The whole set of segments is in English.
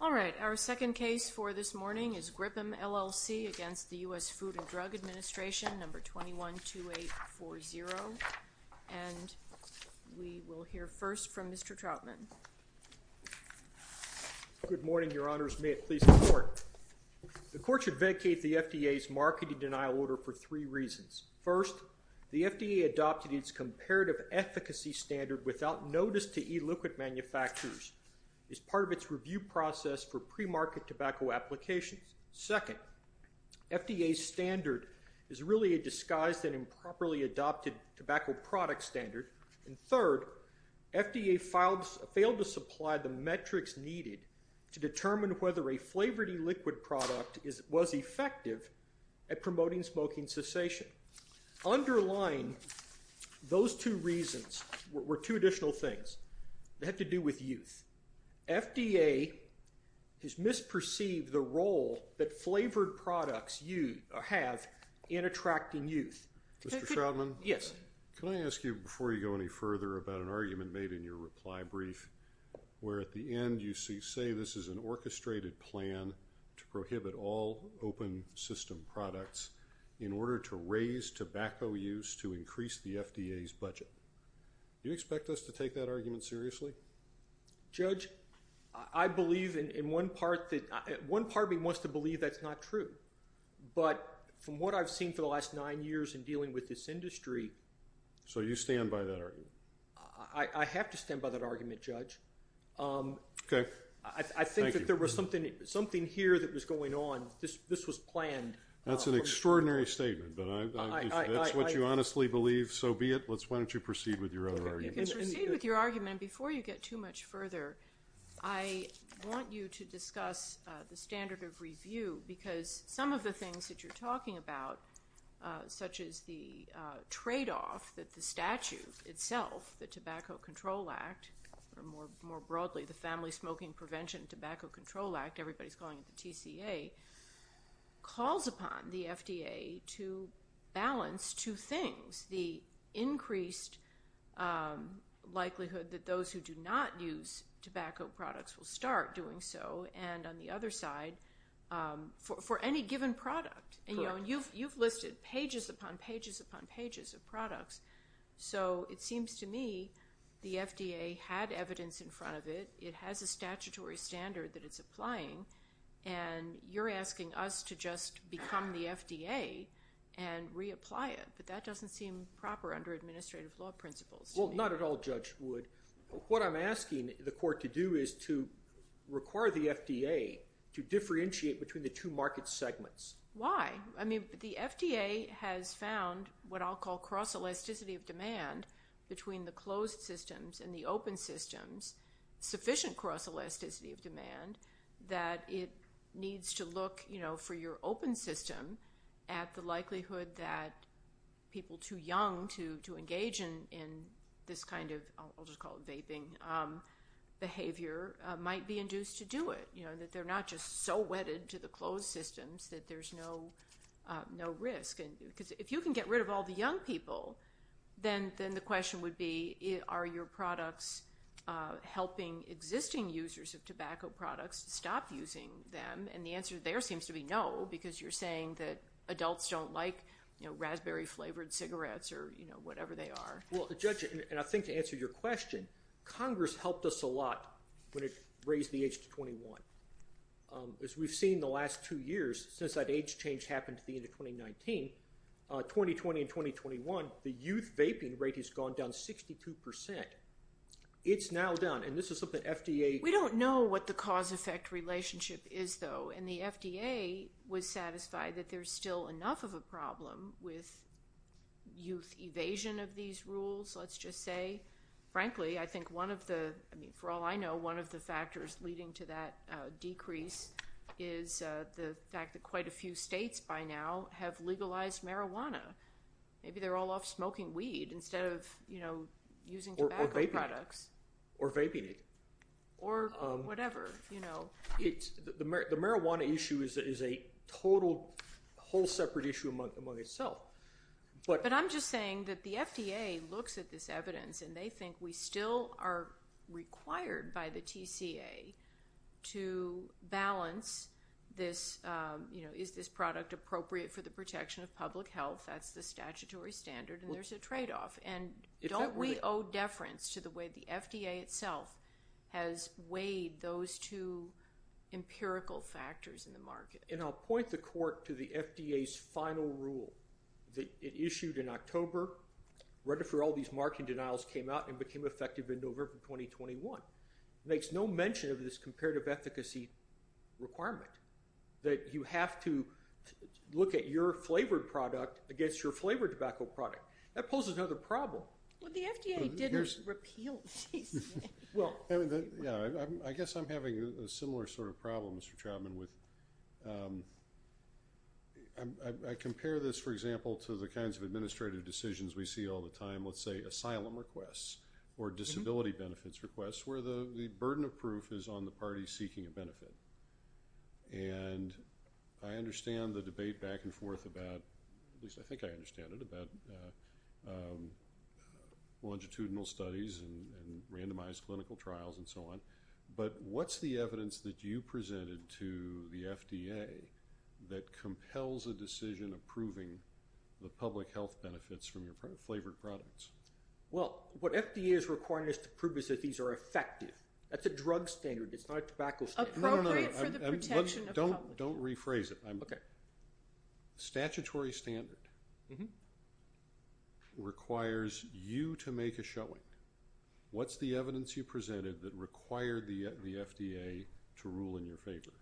All right, our second case for this morning is GRIPUM LLC against the U.S. Food and Drug Administration, number 212840, and we will hear first from Mr. Troutman. Good morning, Your Honors. May it please the Court. The Court should vacate the FDA's marketing denial order for three reasons. First, the FDA adopted its comparative efficacy standard without notice to e-liquid manufacturers as part of its review process for premarket tobacco applications. Second, FDA's standard is really a disguised and improperly adopted tobacco product standard. And third, FDA failed to supply the metrics needed to determine whether a flavored e-liquid product was effective at promoting smoking cessation. Underlying those two reasons were two additional things that had to do with youth. FDA has misperceived the role that flavored products have in attracting youth. Mr. Troutman? Yes. Can I ask you, before you go any further, about an argument made in your reply brief where at the end you say this is an orchestrated plan to prohibit all open system products in order to raise tobacco use to increase the FDA's budget. Do you expect us to take that argument seriously? Judge, I believe in one part that one part of me wants to believe that's not true. But from what I've seen for the last nine years in dealing with this industry... So you stand by that argument? I have to stand by that argument, Judge. Okay. I think that there was something here that was going on. This was planned. That's an argument. You can proceed with your argument. Before you get too much further, I want you to discuss the standard of review because some of the things that you're talking about, such as the trade-off that the statute itself, the Tobacco Control Act, or more broadly the Family Smoking Prevention Tobacco Control Act, everybody's calling it the TCA, calls upon the FDA to balance two things. The increased likelihood that those who do not use tobacco products will start doing so, and on the other side, for any given product. You've listed pages upon pages upon pages of products. It seems to me the FDA had evidence in front of it. It has statutory standard that it's applying. You're asking us to just become the FDA and reapply it, but that doesn't seem proper under administrative law principles. Not at all, Judge Wood. What I'm asking the court to do is to require the FDA to differentiate between the two market segments. Why? The FDA has found what I'll call cross-elasticity of demand between the closed systems and the open systems, sufficient cross-elasticity of demand, that it needs to look for your open system at the likelihood that people too young to engage in this kind of, I'll just call it vaping, behavior might be induced to do it. That they're not just so wedded to the closed systems that there's no risk. If you can get rid of all the young people, then the question would be, are your products helping existing users of tobacco products stop using them? The answer there seems to be no, because you're saying that adults don't like raspberry-flavored cigarettes or whatever they are. Judge, I think to answer your question, Congress helped us a lot when it raised the age to 21. As we've seen the last two years, since that age change happened at the end of 2019, 2020 and 2021, the youth vaping rate has gone down 62%. It's now down, and this is something FDA- We don't know what the cause-effect relationship is, though, and the FDA was satisfied that there's still enough of a problem with youth evasion of these rules, let's just say. Frankly, I think one of the, I mean, for all I quite a few states by now have legalized marijuana. Maybe they're all off smoking weed instead of using tobacco products. Or vaping it. Or whatever. The marijuana issue is a total, whole separate issue among itself. But I'm just saying that the FDA looks at this evidence, and they think we still are required by the TCA to balance this. Is this product appropriate for the protection of public health? That's the statutory standard, and there's a trade-off. And don't we owe deference to the way the FDA itself has weighed those two empirical factors in the market? And I'll point the court to the FDA's final rule that it issued in October, read it for all these mark and denials, came out and became effective in November of 2021. It makes no mention of this comparative efficacy requirement that you have to look at your flavored product against your flavored tobacco product. That poses another problem. Well, the FDA didn't repeal these things. Well, yeah. I guess I'm having a similar sort of problem, Mr. Trautman, with- to the kinds of administrative decisions we see all the time. Let's say asylum requests or disability benefits requests, where the burden of proof is on the party seeking a benefit. And I understand the debate back and forth about, at least I think I understand it, about longitudinal studies and randomized clinical trials and so on. But what's the evidence that you presented to the FDA that compels a decision approving the public health benefits from your flavored products? Well, what FDA is requiring us to prove is that these are effective. That's a drug standard. It's not a tobacco standard. Appropriate for the protection of public health. Don't rephrase it. Statutory standard requires you to make a showing. What's the evidence you presented that required the FDA to rule in your favor?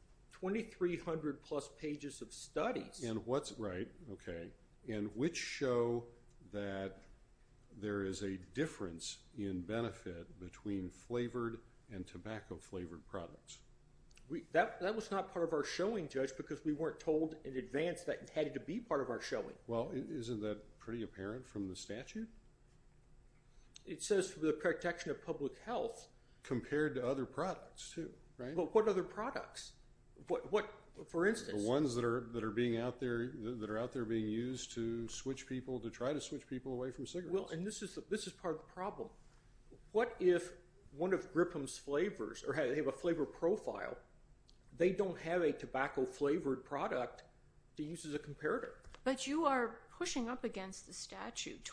2,300 plus pages of studies. And what's- right, okay. And which show that there is a difference in benefit between flavored and tobacco flavored products? That was not part of our showing, Judge, because we weren't told in advance that it had to be part of our showing. Well, isn't that pretty apparent from the statute? It says for the protection of public health. Compared to other products, too, right? But what other products? What, for instance- The ones that are being out there, that are out there being used to switch people, to try to switch people away from cigarettes. Well, and this is part of the problem. What if one of Gripham's flavors, or they have a flavor profile, they don't have a tobacco flavored product to use as a comparator? But you are pushing up against the statute.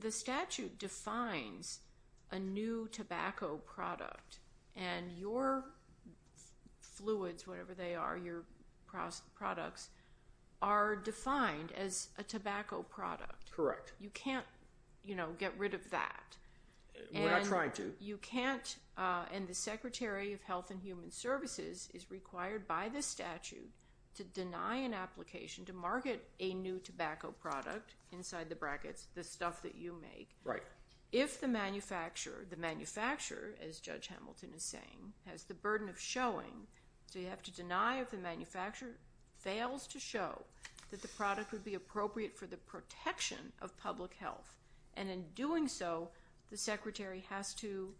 The statute defines a new tobacco product, and your fluids, whatever they are, your products are defined as a tobacco product. Correct. You can't, you know, get rid of that. We're not trying to. You can't, and the Secretary of Health and Human Services is required by this statute to deny an application to market a new tobacco product, inside the brackets, the stuff that you make, if the manufacturer, as Judge Hamilton is saying, has the burden of showing. So you have to deny if the manufacturer fails to show that the product would be appropriate for the protection of public health. And in doing so, the Secretary has to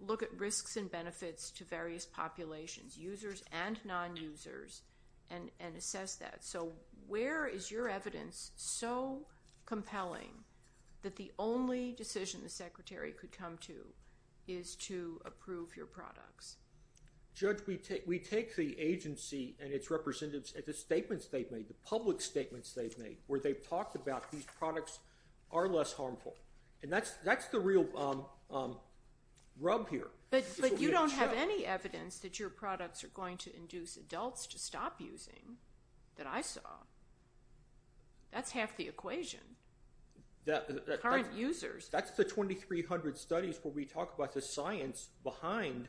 look at risks and benefits to various populations, users and non-users, and assess that. So where is your evidence so compelling that the only decision the Secretary could come to is to approve your products? Judge, we take the agency and its representatives at the statements they've made, the public statements they've made, where they've talked about these products are less harmful. And that's the real rub here. But you don't have any evidence that your products are going to induce adults to stop using, that I saw. That's half the equation. Current users. That's the 2300 studies where we talk about the science behind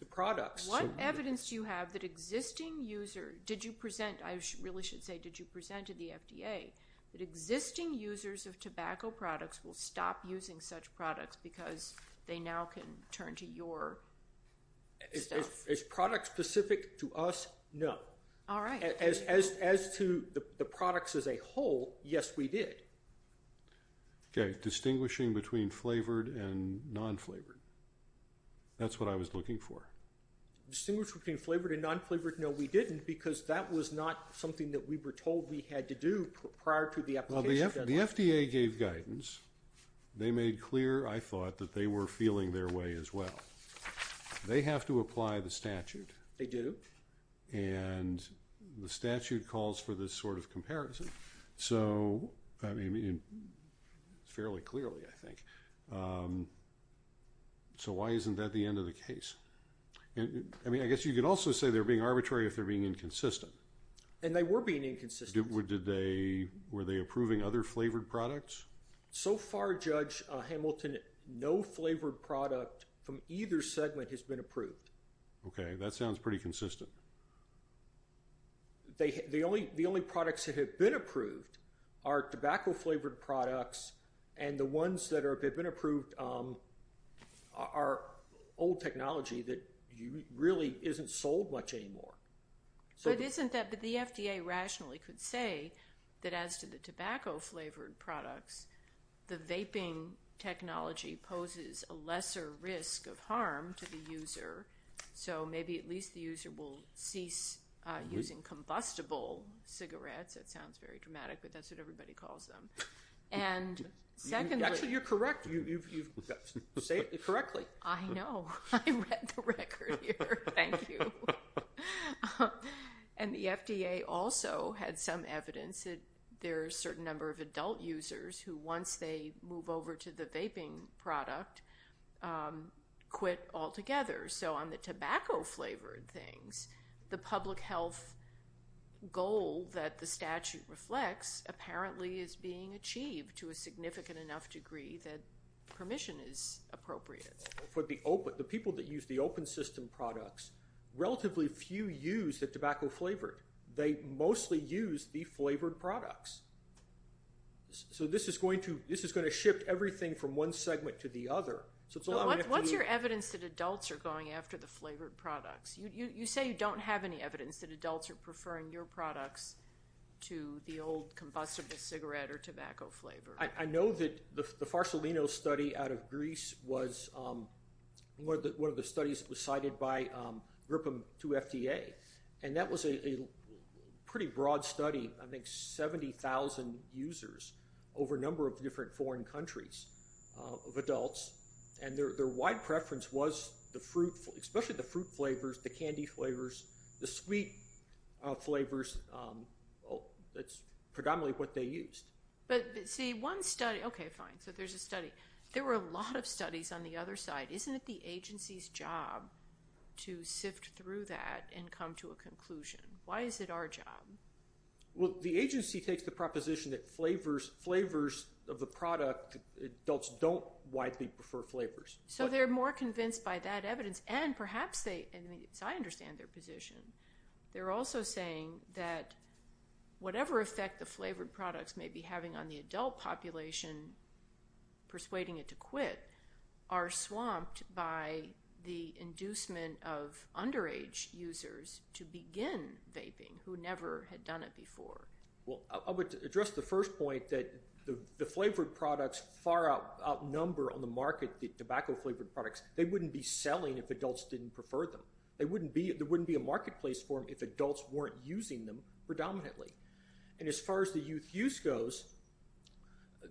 the products. What evidence do you have that existing user, did you present, I really should say, did you present to the FDA, that existing users of tobacco products will stop using such products because they now can turn to your stuff? It's product-specific to us? No. All right. As to the products as a whole, yes, we did. Okay. Distinguishing between flavored and non-flavored. That's what I was looking for. Distinguish between flavored and non-flavored? No, we didn't, because that was not something that we were told we had to do prior to the application deadline. The FDA gave guidance. They made clear, I thought, that they were feeling their way as well. They have to apply the statute. They do. And the statute calls for this sort of comparison. So, I mean, fairly clearly, I think. So why isn't that the end of the case? I mean, I guess you could also say they're being arbitrary if they're being inconsistent. And they were being inconsistent. Did they, were they approving other flavored products? So far, Judge Hamilton, no flavored product from either segment has been approved. Okay. That sounds pretty consistent. The only products that have been approved are tobacco-flavored products, and the ones that have been approved are old technology that really isn't sold much anymore. So it isn't that, but the FDA rationally could say that as to the tobacco-flavored products, the vaping technology poses a lesser risk of harm to the user. So maybe at least the user will cease using combustible cigarettes. It sounds very dramatic, but that's what everybody calls them. And secondly— Actually, you're correct. Say it correctly. I know. I read the record here. Thank you. And the FDA also had some evidence that there are a certain number of adult users who, once they move over to the vaping product, quit altogether. So on the tobacco-flavored things, the public health goal that the statute reflects apparently is being achieved to a significant enough degree that permission is appropriate. The people that use the open system products, relatively few use the tobacco-flavored. They mostly use the flavored products. So this is going to shift everything from one segment to the other. So what's your evidence that adults are going after the flavored products? You say you don't have any evidence that adults are preferring your products to the old combustible cigarette or tobacco flavor. I know that the Farsolino study out of Greece was one of the studies that was cited by Gripham to FDA, and that was a pretty broad study. I think 70,000 users over a number of different foreign countries of adults, and their wide preference was the fruit, especially the fruit flavors, the candy flavors, the sweet flavors. That's predominantly what they used. But see, one study, okay, fine. So there's a study. There were a lot of studies on the other side. Isn't it the agency's job to sift through that and come to a conclusion? Why is it our job? Well, the agency takes the proposition that flavors of the product, adults don't widely prefer flavors. So they're more convinced by that evidence, and perhaps they, as I understand their position, they're also saying that whatever effect the flavored products may be having on the adult population, persuading it to quit, are swamped by the inducement of underage users to begin vaping who never had done it before. Well, I would address the first point that the flavored products far outnumber on the market the tobacco flavored products. They wouldn't be selling if adults didn't prefer them. There wouldn't be a marketplace for them if adults weren't using them predominantly. And as far as the youth use goes,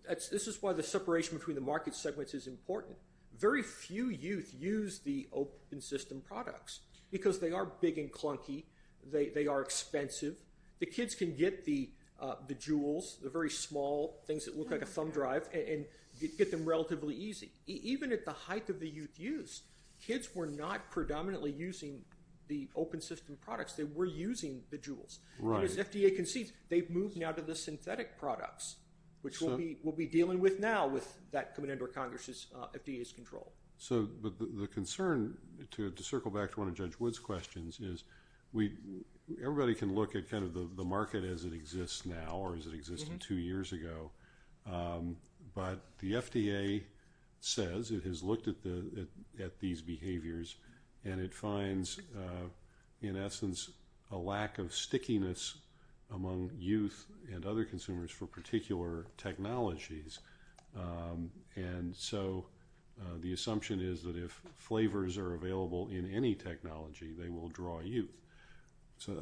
this is why the separation between the market segments is important. Very few youth use the open system products because they are big and clunky. They are expensive. The kids can get the jewels, the very small things that look like a thumb drive, and get them relatively easy. Even at the height of the youth use, kids were not predominantly using the open system products. They were using the jewels. And as FDA concedes, they've moved now to the synthetic products, which we'll be dealing with now with that coming under Congress's FDA's control. So the concern, to circle back to one of Judge Wood's questions, is everybody can look at kind of the market as it exists now or as it existed two years ago. But the FDA says, it has looked at these behaviors, and it finds, in essence, a lack of stickiness among youth and other consumers for particular technologies. And so the assumption is that if flavors are available in any technology, they will draw youth. So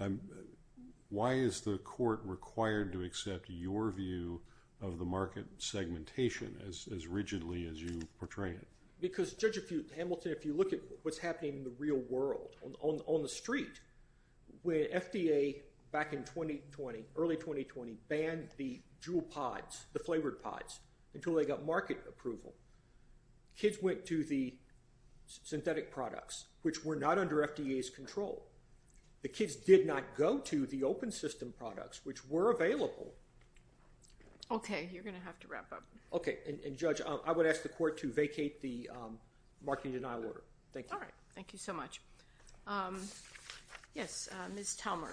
why is the court required to accept your view of the market segmentation as rigidly as you portray it? Because, Judge Hamilton, if you look at what's happening in the real world, on the street, when FDA, back in 2020, early 2020, banned the jewel pods, the flavored pods, until they got market approval, kids went to the synthetic products, which were not under FDA's control. The kids did not go to the open system products, which were available. Okay. You're going to have to wrap up. Okay. And, Judge, I would ask the court to vacate the marketing denial order. Thank you. All right. Thank you so much. Yes, Ms. Talmer.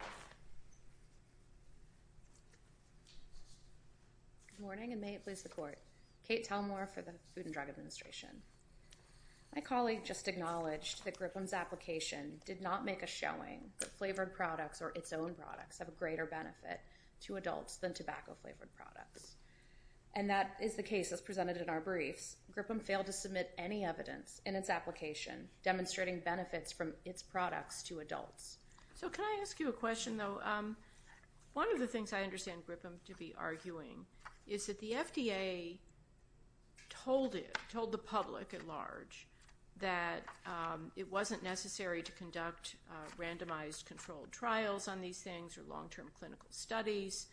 Good morning, and may it please the court. Kate Talmer for the Food and Drug Administration. My colleague just acknowledged that Grippem's application did not make a showing that flavored products or its own products have a greater benefit to adults than tobacco-flavored products. And that is the case, as presented in our briefs. Grippem failed to submit any evidence in its application demonstrating benefits from its products to adults. So can I ask you a question, though? One of the things I understand Grippem to be arguing is that the FDA told it, told the public at large, that it wasn't necessary to conduct randomized controlled trials on these things or long-term clinical studies.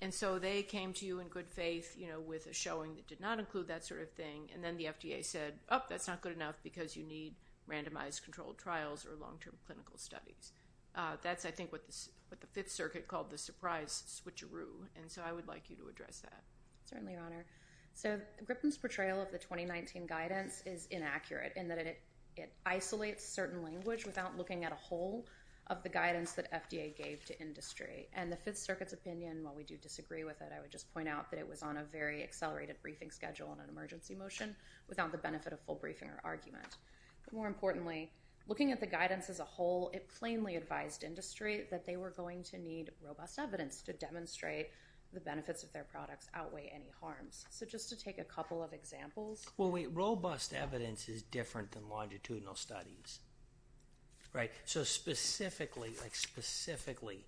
And so they came to you in good faith, you know, with a showing that did not include that sort of thing. And then the FDA said, oh, that's not good enough because you need randomized controlled trials or long-term clinical studies. That's, I think, what the Fifth Circuit called the surprise switcheroo. And so I would like you to address that. Certainly, Your Honor. So Grippem's portrayal of the 2019 guidance is inaccurate in that it isolates certain language without looking at a whole of the guidance that FDA gave to industry. And the Fifth Circuit's opinion, while we do disagree with it, I would just point out that it was on a very accelerated briefing schedule and an emergency motion without the benefit of full briefing or argument. But more importantly, looking at the guidance as a whole, it plainly advised industry that they were going to need robust evidence to demonstrate the benefits of their products outweigh any harms. So just to take a couple of examples. Well, robust evidence is different than longitudinal studies, right? So specifically, like specifically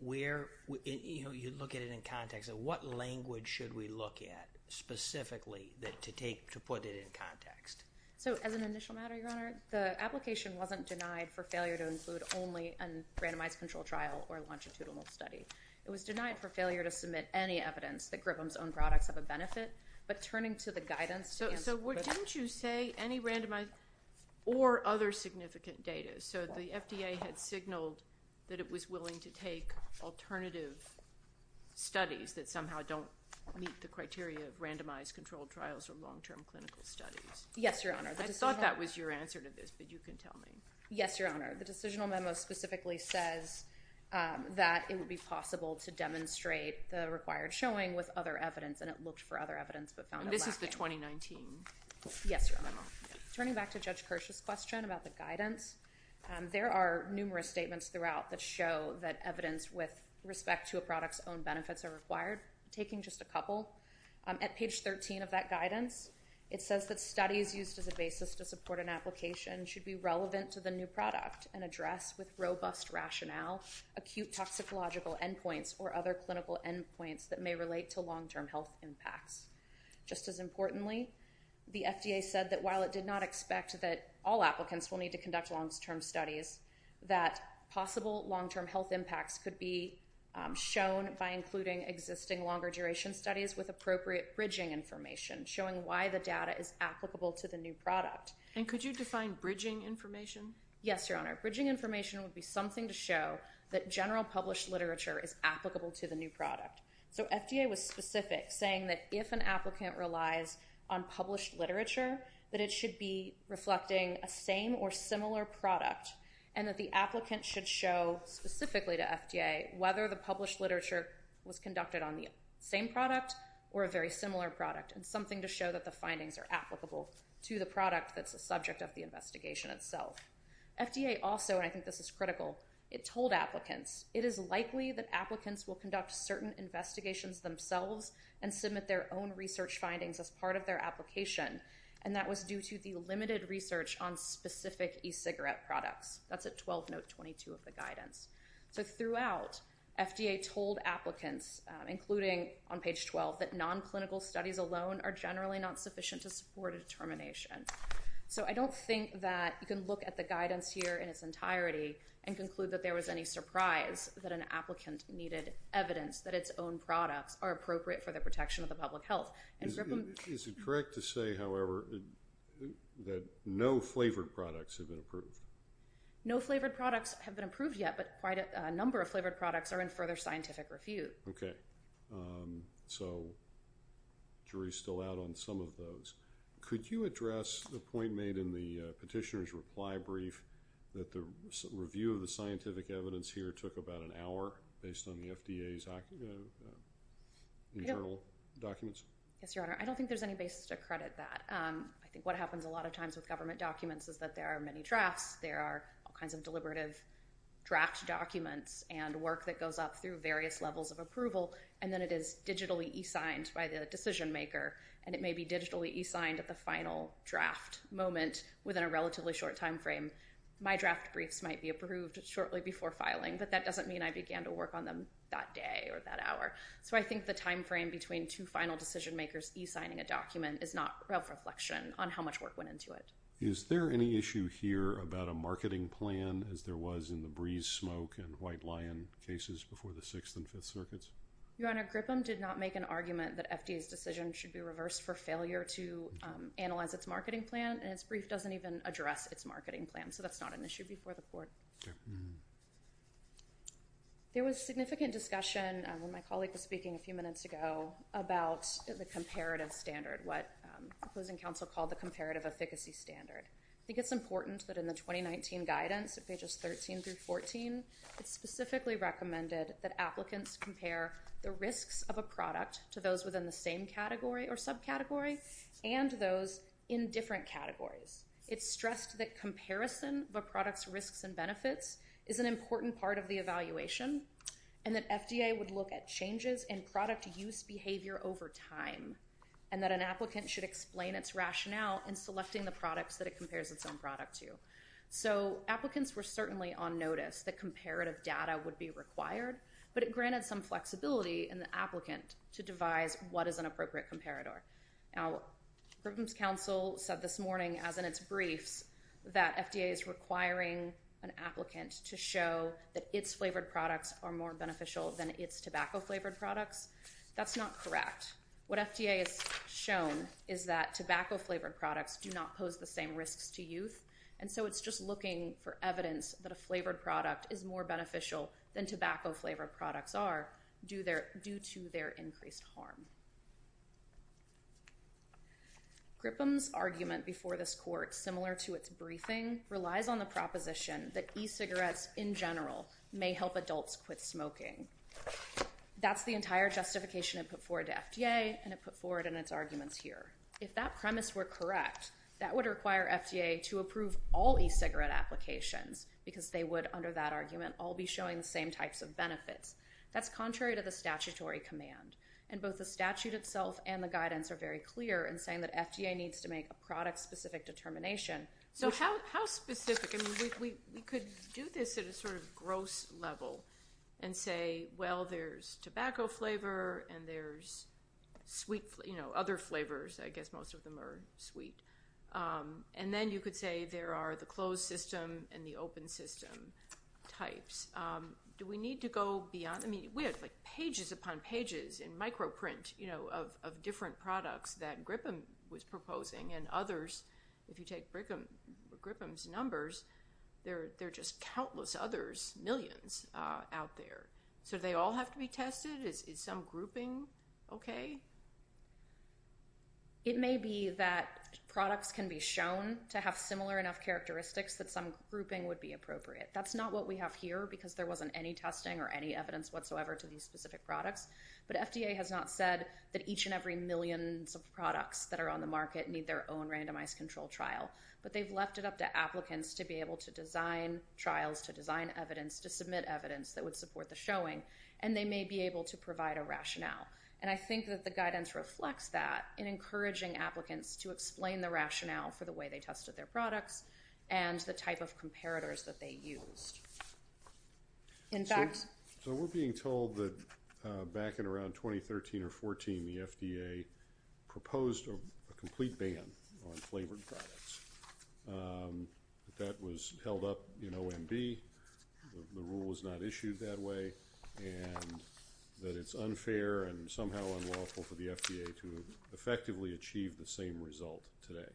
where, you know, you look at it in context of what language should we look at specifically to take, to put it in context? So as an initial matter, Your Honor, the application wasn't denied for failure to include only a randomized controlled trial or a longitudinal study. It was denied for failure to submit any evidence that Grippem's own products have a benefit. But turning to the guidance— So didn't you say any randomized or other significant data? So the FDA had signaled that it was willing to take alternative studies that somehow don't meet the criteria of randomized controlled trials or long-term clinical studies. Yes, Your Honor. I thought that was your answer to this, but you can tell me. Yes, Your Honor. The decisional memo specifically says that it would be possible to demonstrate the required showing with other evidence, and it looked for other evidence but found it lacking. And this is the 2019? Yes, Your Honor. Turning back to Judge Kirsch's question about the guidance, there are numerous statements throughout that show that evidence with respect to a product's own benefits are required. Taking just a couple, at page 13 of that guidance, it says that studies used as a basis to support an application should be relevant to the new product and address with robust rationale acute toxicological endpoints or other clinical endpoints that may relate to long-term health impacts. Just as importantly, the FDA said that while it did not expect that all applicants will need to conduct long-term studies, that possible long-term health impacts could be shown by including existing longer-duration studies with appropriate bridging information, showing why the data is applicable to the new product. And could you define bridging information? Yes, Your Honor. Bridging information would be something to show that general published literature is applicable to the new product. So FDA was specific, saying that if an applicant relies on published literature, that it should be reflecting a same or similar product, and that the applicant should show specifically to FDA whether the published literature was conducted on the same product or a very similar product, and something to show that the findings are applicable to the product that's the subject of the investigation itself. FDA also, and I think this is critical, it told applicants, it is likely that applicants will conduct certain investigations themselves and submit their own research findings as part of their application, and that was due to the limited research on specific e-cigarette products. That's at 12 note 22 of the guidance. So throughout, FDA told applicants, including on page 12, that non-clinical studies alone are generally not sufficient to support a determination. So I don't think that you can look at the guidance here in its entirety and conclude that there was any surprise that an applicant needed evidence that its own products are appropriate for the protection of the public health. Is it correct to say, however, that no flavored products have been approved? No flavored products have been approved yet, but quite a number of flavored products are in further scientific review. Okay. So jury's still out on some of those. Could you address the point made in the petitioner's reply brief that the review of the scientific evidence here took about an hour based on the FDA's internal documents? Yes, Your Honor. I don't think there's any basis to credit that. I think what happens a lot of times with government documents is that there are many drafts, all kinds of deliberative draft documents and work that goes up through various levels of approval, and then it is digitally e-signed by the decision maker. And it may be digitally e-signed at the final draft moment within a relatively short time frame. My draft briefs might be approved shortly before filing, but that doesn't mean I began to work on them that day or that hour. So I think the time frame between two final decision makers e-signing a document is not a reflection on how much work went into it. Is there any issue here about a marketing plan as there was in the Breeze Smoke and White Lion cases before the Sixth and Fifth Circuits? Your Honor, Gripham did not make an argument that FDA's decision should be reversed for failure to analyze its marketing plan, and its brief doesn't even address its marketing plan. So that's not an issue before the court. There was significant discussion when my colleague was speaking a few minutes ago about the comparative standard, what the closing counsel called the comparative efficacy standard. I think it's important that in the 2019 guidance at pages 13 through 14, it's specifically recommended that applicants compare the risks of a product to those within the same category or subcategory and those in different categories. It's stressed that comparison of a product's risks and benefits is an important part of time, and that an applicant should explain its rationale in selecting the products that it compares its own product to. So applicants were certainly on notice that comparative data would be required, but it granted some flexibility in the applicant to devise what is an appropriate comparator. Now, Gripham's counsel said this morning, as in its briefs, that FDA is requiring an applicant to show that its flavored products are more beneficial than its tobacco flavored products. That's not correct. What FDA has shown is that tobacco flavored products do not pose the same risks to youth, and so it's just looking for evidence that a flavored product is more beneficial than tobacco flavored products are due to their increased harm. Gripham's argument before this court, similar to its briefing, relies on the proposition that e-cigarettes in general may help adults quit smoking. That's the entire justification it put forward to FDA, and it put forward in its arguments here. If that premise were correct, that would require FDA to approve all e-cigarette applications because they would, under that argument, all be showing the same types of benefits. That's contrary to the statutory command, and both the statute itself and the guidance are very clear in saying that FDA needs to make a product-specific determination. So how specific? We could do this at a sort of gross level and say, well, there's tobacco flavor and there's other flavors. I guess most of them are sweet. And then you could say there are the closed system and the open system types. Do we need to go beyond? I mean, we have pages upon pages in microprint of different products that Gripham was proposing and others, if you take Gripham's numbers, there are just countless others, millions out there. So do they all have to be tested? Is some grouping okay? It may be that products can be shown to have similar enough characteristics that some grouping would be appropriate. That's not what we have here because there wasn't any testing or any evidence whatsoever to these specific products. But FDA has not said that each and every millions of products that are on the market need their own randomized control trial. But they've left it up to applicants to be able to design trials, to design evidence, to submit evidence that would support the showing. And they may be able to provide a rationale. And I think that the guidance reflects that in encouraging applicants to explain the rationale for the way they tested their products and the type of comparators that they used. In fact- So we're being told that back in around 2013 or 14, the FDA proposed a complete ban on flavored products. That was held up in OMB. The rule was not issued that way. And that it's unfair and somehow unlawful for the FDA to effectively achieve the same result today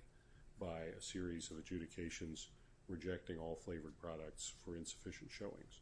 by a series of adjudications rejecting all flavored products for insufficient showings.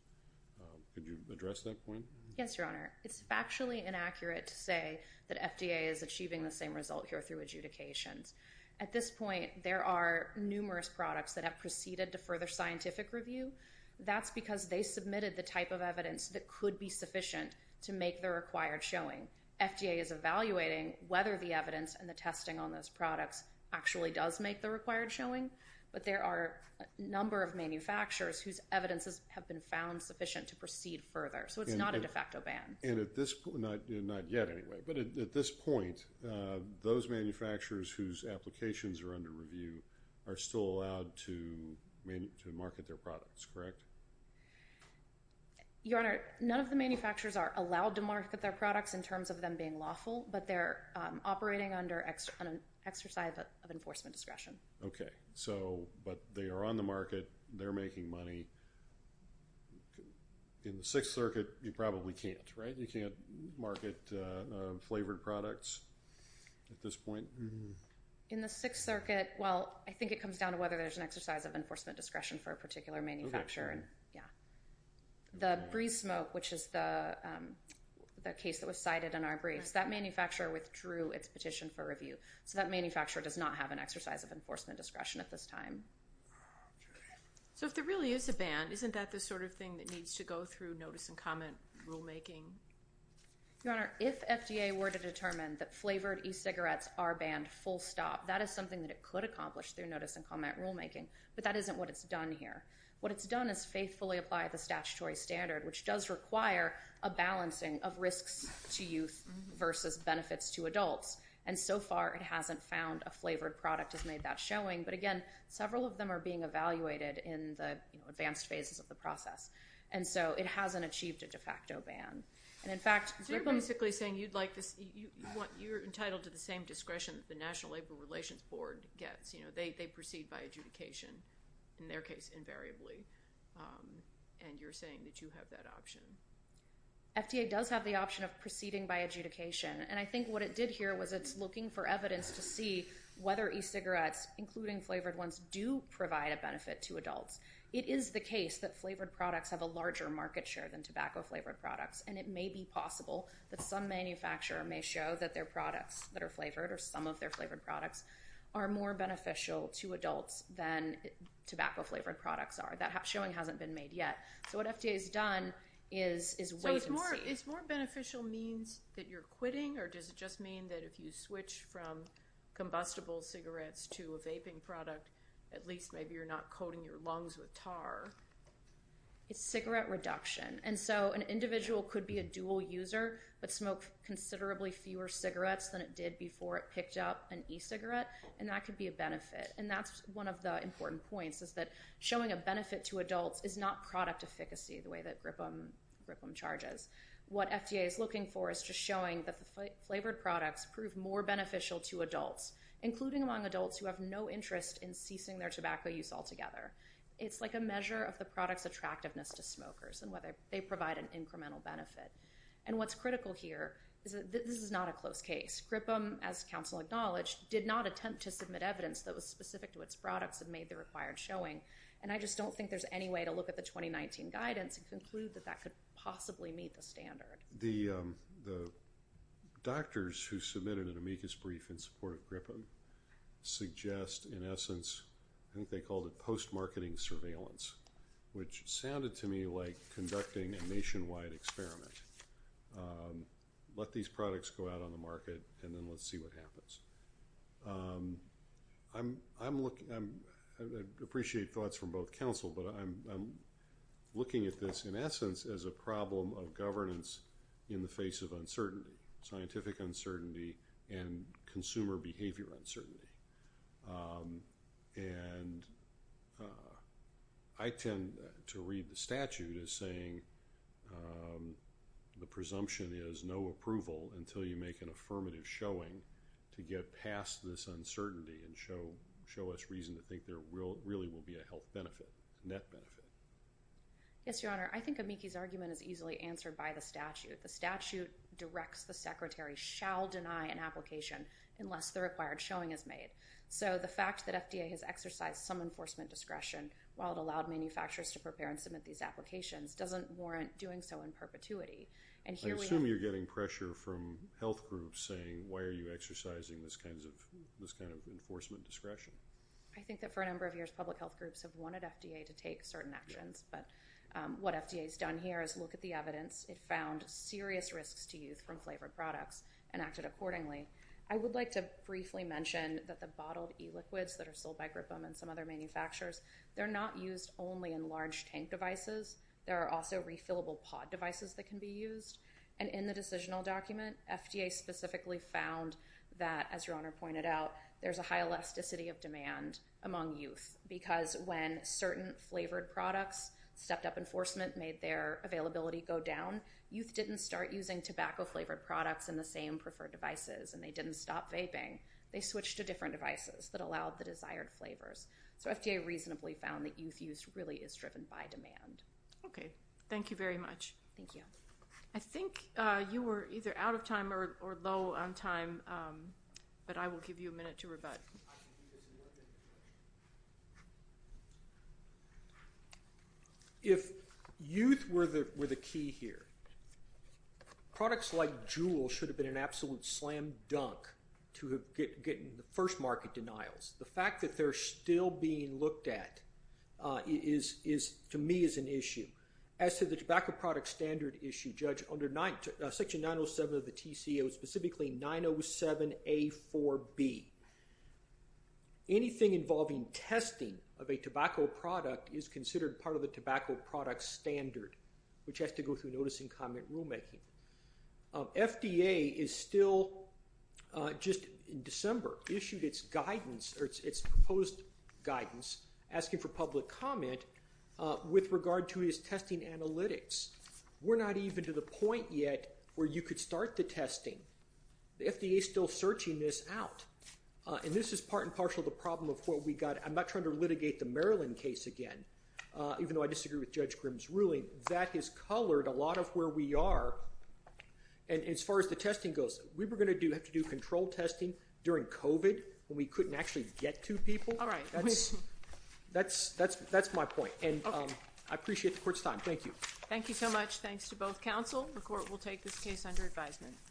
Could you address that point? Yes, Your Honor. It's factually inaccurate to say that FDA is achieving the same result here through adjudications. At this point, there are numerous products that have proceeded to further scientific review. That's because they submitted the type of evidence that could be sufficient to make the required showing. FDA is evaluating whether the evidence and the testing on those products actually does make the required showing. But there are a number of manufacturers whose evidences have been found sufficient to proceed further. So it's not a de facto ban. And at this point, not yet anyway, but at this point, those manufacturers whose applications are under review are still allowed to market their products, correct? Your Honor, none of the manufacturers are allowed to market their products in terms of them being lawful. But they're operating under an exercise of enforcement discretion. Okay. So, but they are on the market. They're making money. In the Sixth Circuit, you probably can't, right? You can't market flavored products at this point? In the Sixth Circuit, well, I think it comes down to whether there's an exercise of enforcement discretion for a particular manufacturer. Yeah. The Breeze Smoke, which is the case that was cited in our briefs, that manufacturer withdrew its petition for review. So that manufacturer does not have an exercise of enforcement discretion at this time. So if there really is a ban, isn't that the sort of thing that needs to go through notice and comment rulemaking? Your Honor, if FDA were to determine that flavored e-cigarettes are banned full stop, that is something that it could accomplish through notice and comment rulemaking. But that isn't what it's done here. What it's done is faithfully apply the statutory standard, which does require a balancing of risks to youth versus benefits to adults. And so far, it hasn't found a flavored product has made that showing. But again, several of them are being evaluated in the advanced phases of the process. And so it hasn't achieved a de facto ban. And in fact- So you're basically saying you're entitled to the same discretion that the National Labor Relations Board gets. They proceed by adjudication, in their case invariably. And you're saying that you have that option? FDA does have the option of proceeding by adjudication. And I think what it did here was it's looking for evidence to see whether e-cigarettes, including flavored ones, do provide a benefit to adults. It is the case that flavored products have a larger market share than tobacco-flavored products. And it may be possible that some manufacturer may show that their products that are flavored or some of their flavored products are more beneficial to adults than tobacco-flavored products are. That showing hasn't been made yet. So what FDA has done is wait and see. Is more beneficial means that you're quitting, or does it just mean that if you switch from combustible cigarettes to a vaping product, at least maybe you're not coating your lungs with tar? It's cigarette reduction. And so an individual could be a dual user but smoke considerably fewer cigarettes than it did before it picked up an e-cigarette. And that could be a benefit. And that's one of the important points, is that showing a benefit to adults is not product efficacy, the way that GRIPM charges. What FDA is looking for is just showing that the flavored products prove more beneficial to adults, including among adults who have no interest in ceasing their tobacco use altogether. It's like a measure of the product's attractiveness to smokers and whether they provide an incremental benefit. And what's critical here is that this is not a close case. GRIPM, as counsel acknowledged, did not attempt to submit evidence that was specific to its products and made the required showing. And I just don't think there's any way to look at the 2019 guidance and conclude that that could possibly meet the standard. The doctors who submitted an amicus brief in support of GRIPM suggest, in essence, I think they called it post-marketing surveillance, which sounded to me like conducting a nationwide experiment. Let these products go out on the market and then let's see what happens. I appreciate thoughts from both counsel, but I'm looking at this, in essence, as a problem of governance in the face of uncertainty, scientific uncertainty and consumer behavior uncertainty. And I tend to read the statute as saying the presumption is no approval until you make an affirmative showing to get past this uncertainty and show us reason to think there really will be a health benefit, net benefit. Yes, Your Honor. I think Amiki's argument is easily answered by the statute. The statute directs the secretary shall deny an application unless the required showing is made. So the fact that FDA has exercised some enforcement discretion while it allowed manufacturers to prepare and submit these applications doesn't warrant doing so in perpetuity. I assume you're getting pressure from health groups saying, why are you exercising this kind of enforcement discretion? I think that for a number of years, public health groups have wanted FDA to take certain actions. But what FDA has done here is look at the evidence. It found serious risks to use from flavored products and acted accordingly. I would like to briefly mention that the bottled e-liquids that are sold by GRIPM and some other manufacturers, they're not used only in large tank devices. There are also refillable pod devices that can be used. And in the decisional document, FDA specifically found that, as Your Honor pointed out, there's a high elasticity of demand among youth. Because when certain flavored products stepped up enforcement, made their availability go down, youth didn't start using tobacco-flavored products in the same preferred devices. And they didn't stop vaping. They switched to different devices that allowed the desired flavors. So FDA reasonably found that youth use really is driven by demand. Okay. Thank you very much. Thank you. I think you were either out of time or low on time. But I will give you a minute to rebut. If youth were the key here, products like Juul should have been an absolute slam dunk to getting the first market denials. The fact that they're still being looked at is, to me, is an issue. As to the tobacco product standard issue, Judge, under Section 907 of the TCO, specifically 907A4B, anything involving testing of a tobacco product is considered part of the tobacco product standard, which has to go through notice and comment rulemaking. FDA is still, just in December, issued its guidance, or its proposed guidance, asking for public comment with regard to its testing analytics. We're not even to the point yet where you could start the testing. The FDA is still searching this out. And this is part and parcel of the problem of what we got. I'm not trying to litigate the Maryland case again, even though I disagree with Judge Grimm's ruling. That has colored a lot of where we are. And as far as the testing goes, we were going to have to do control testing during COVID when we couldn't actually get to people. All right. That's my point. And I appreciate the court's time. Thank you. Thank you so much. Thanks to both counsel. The court will take this case under advisement.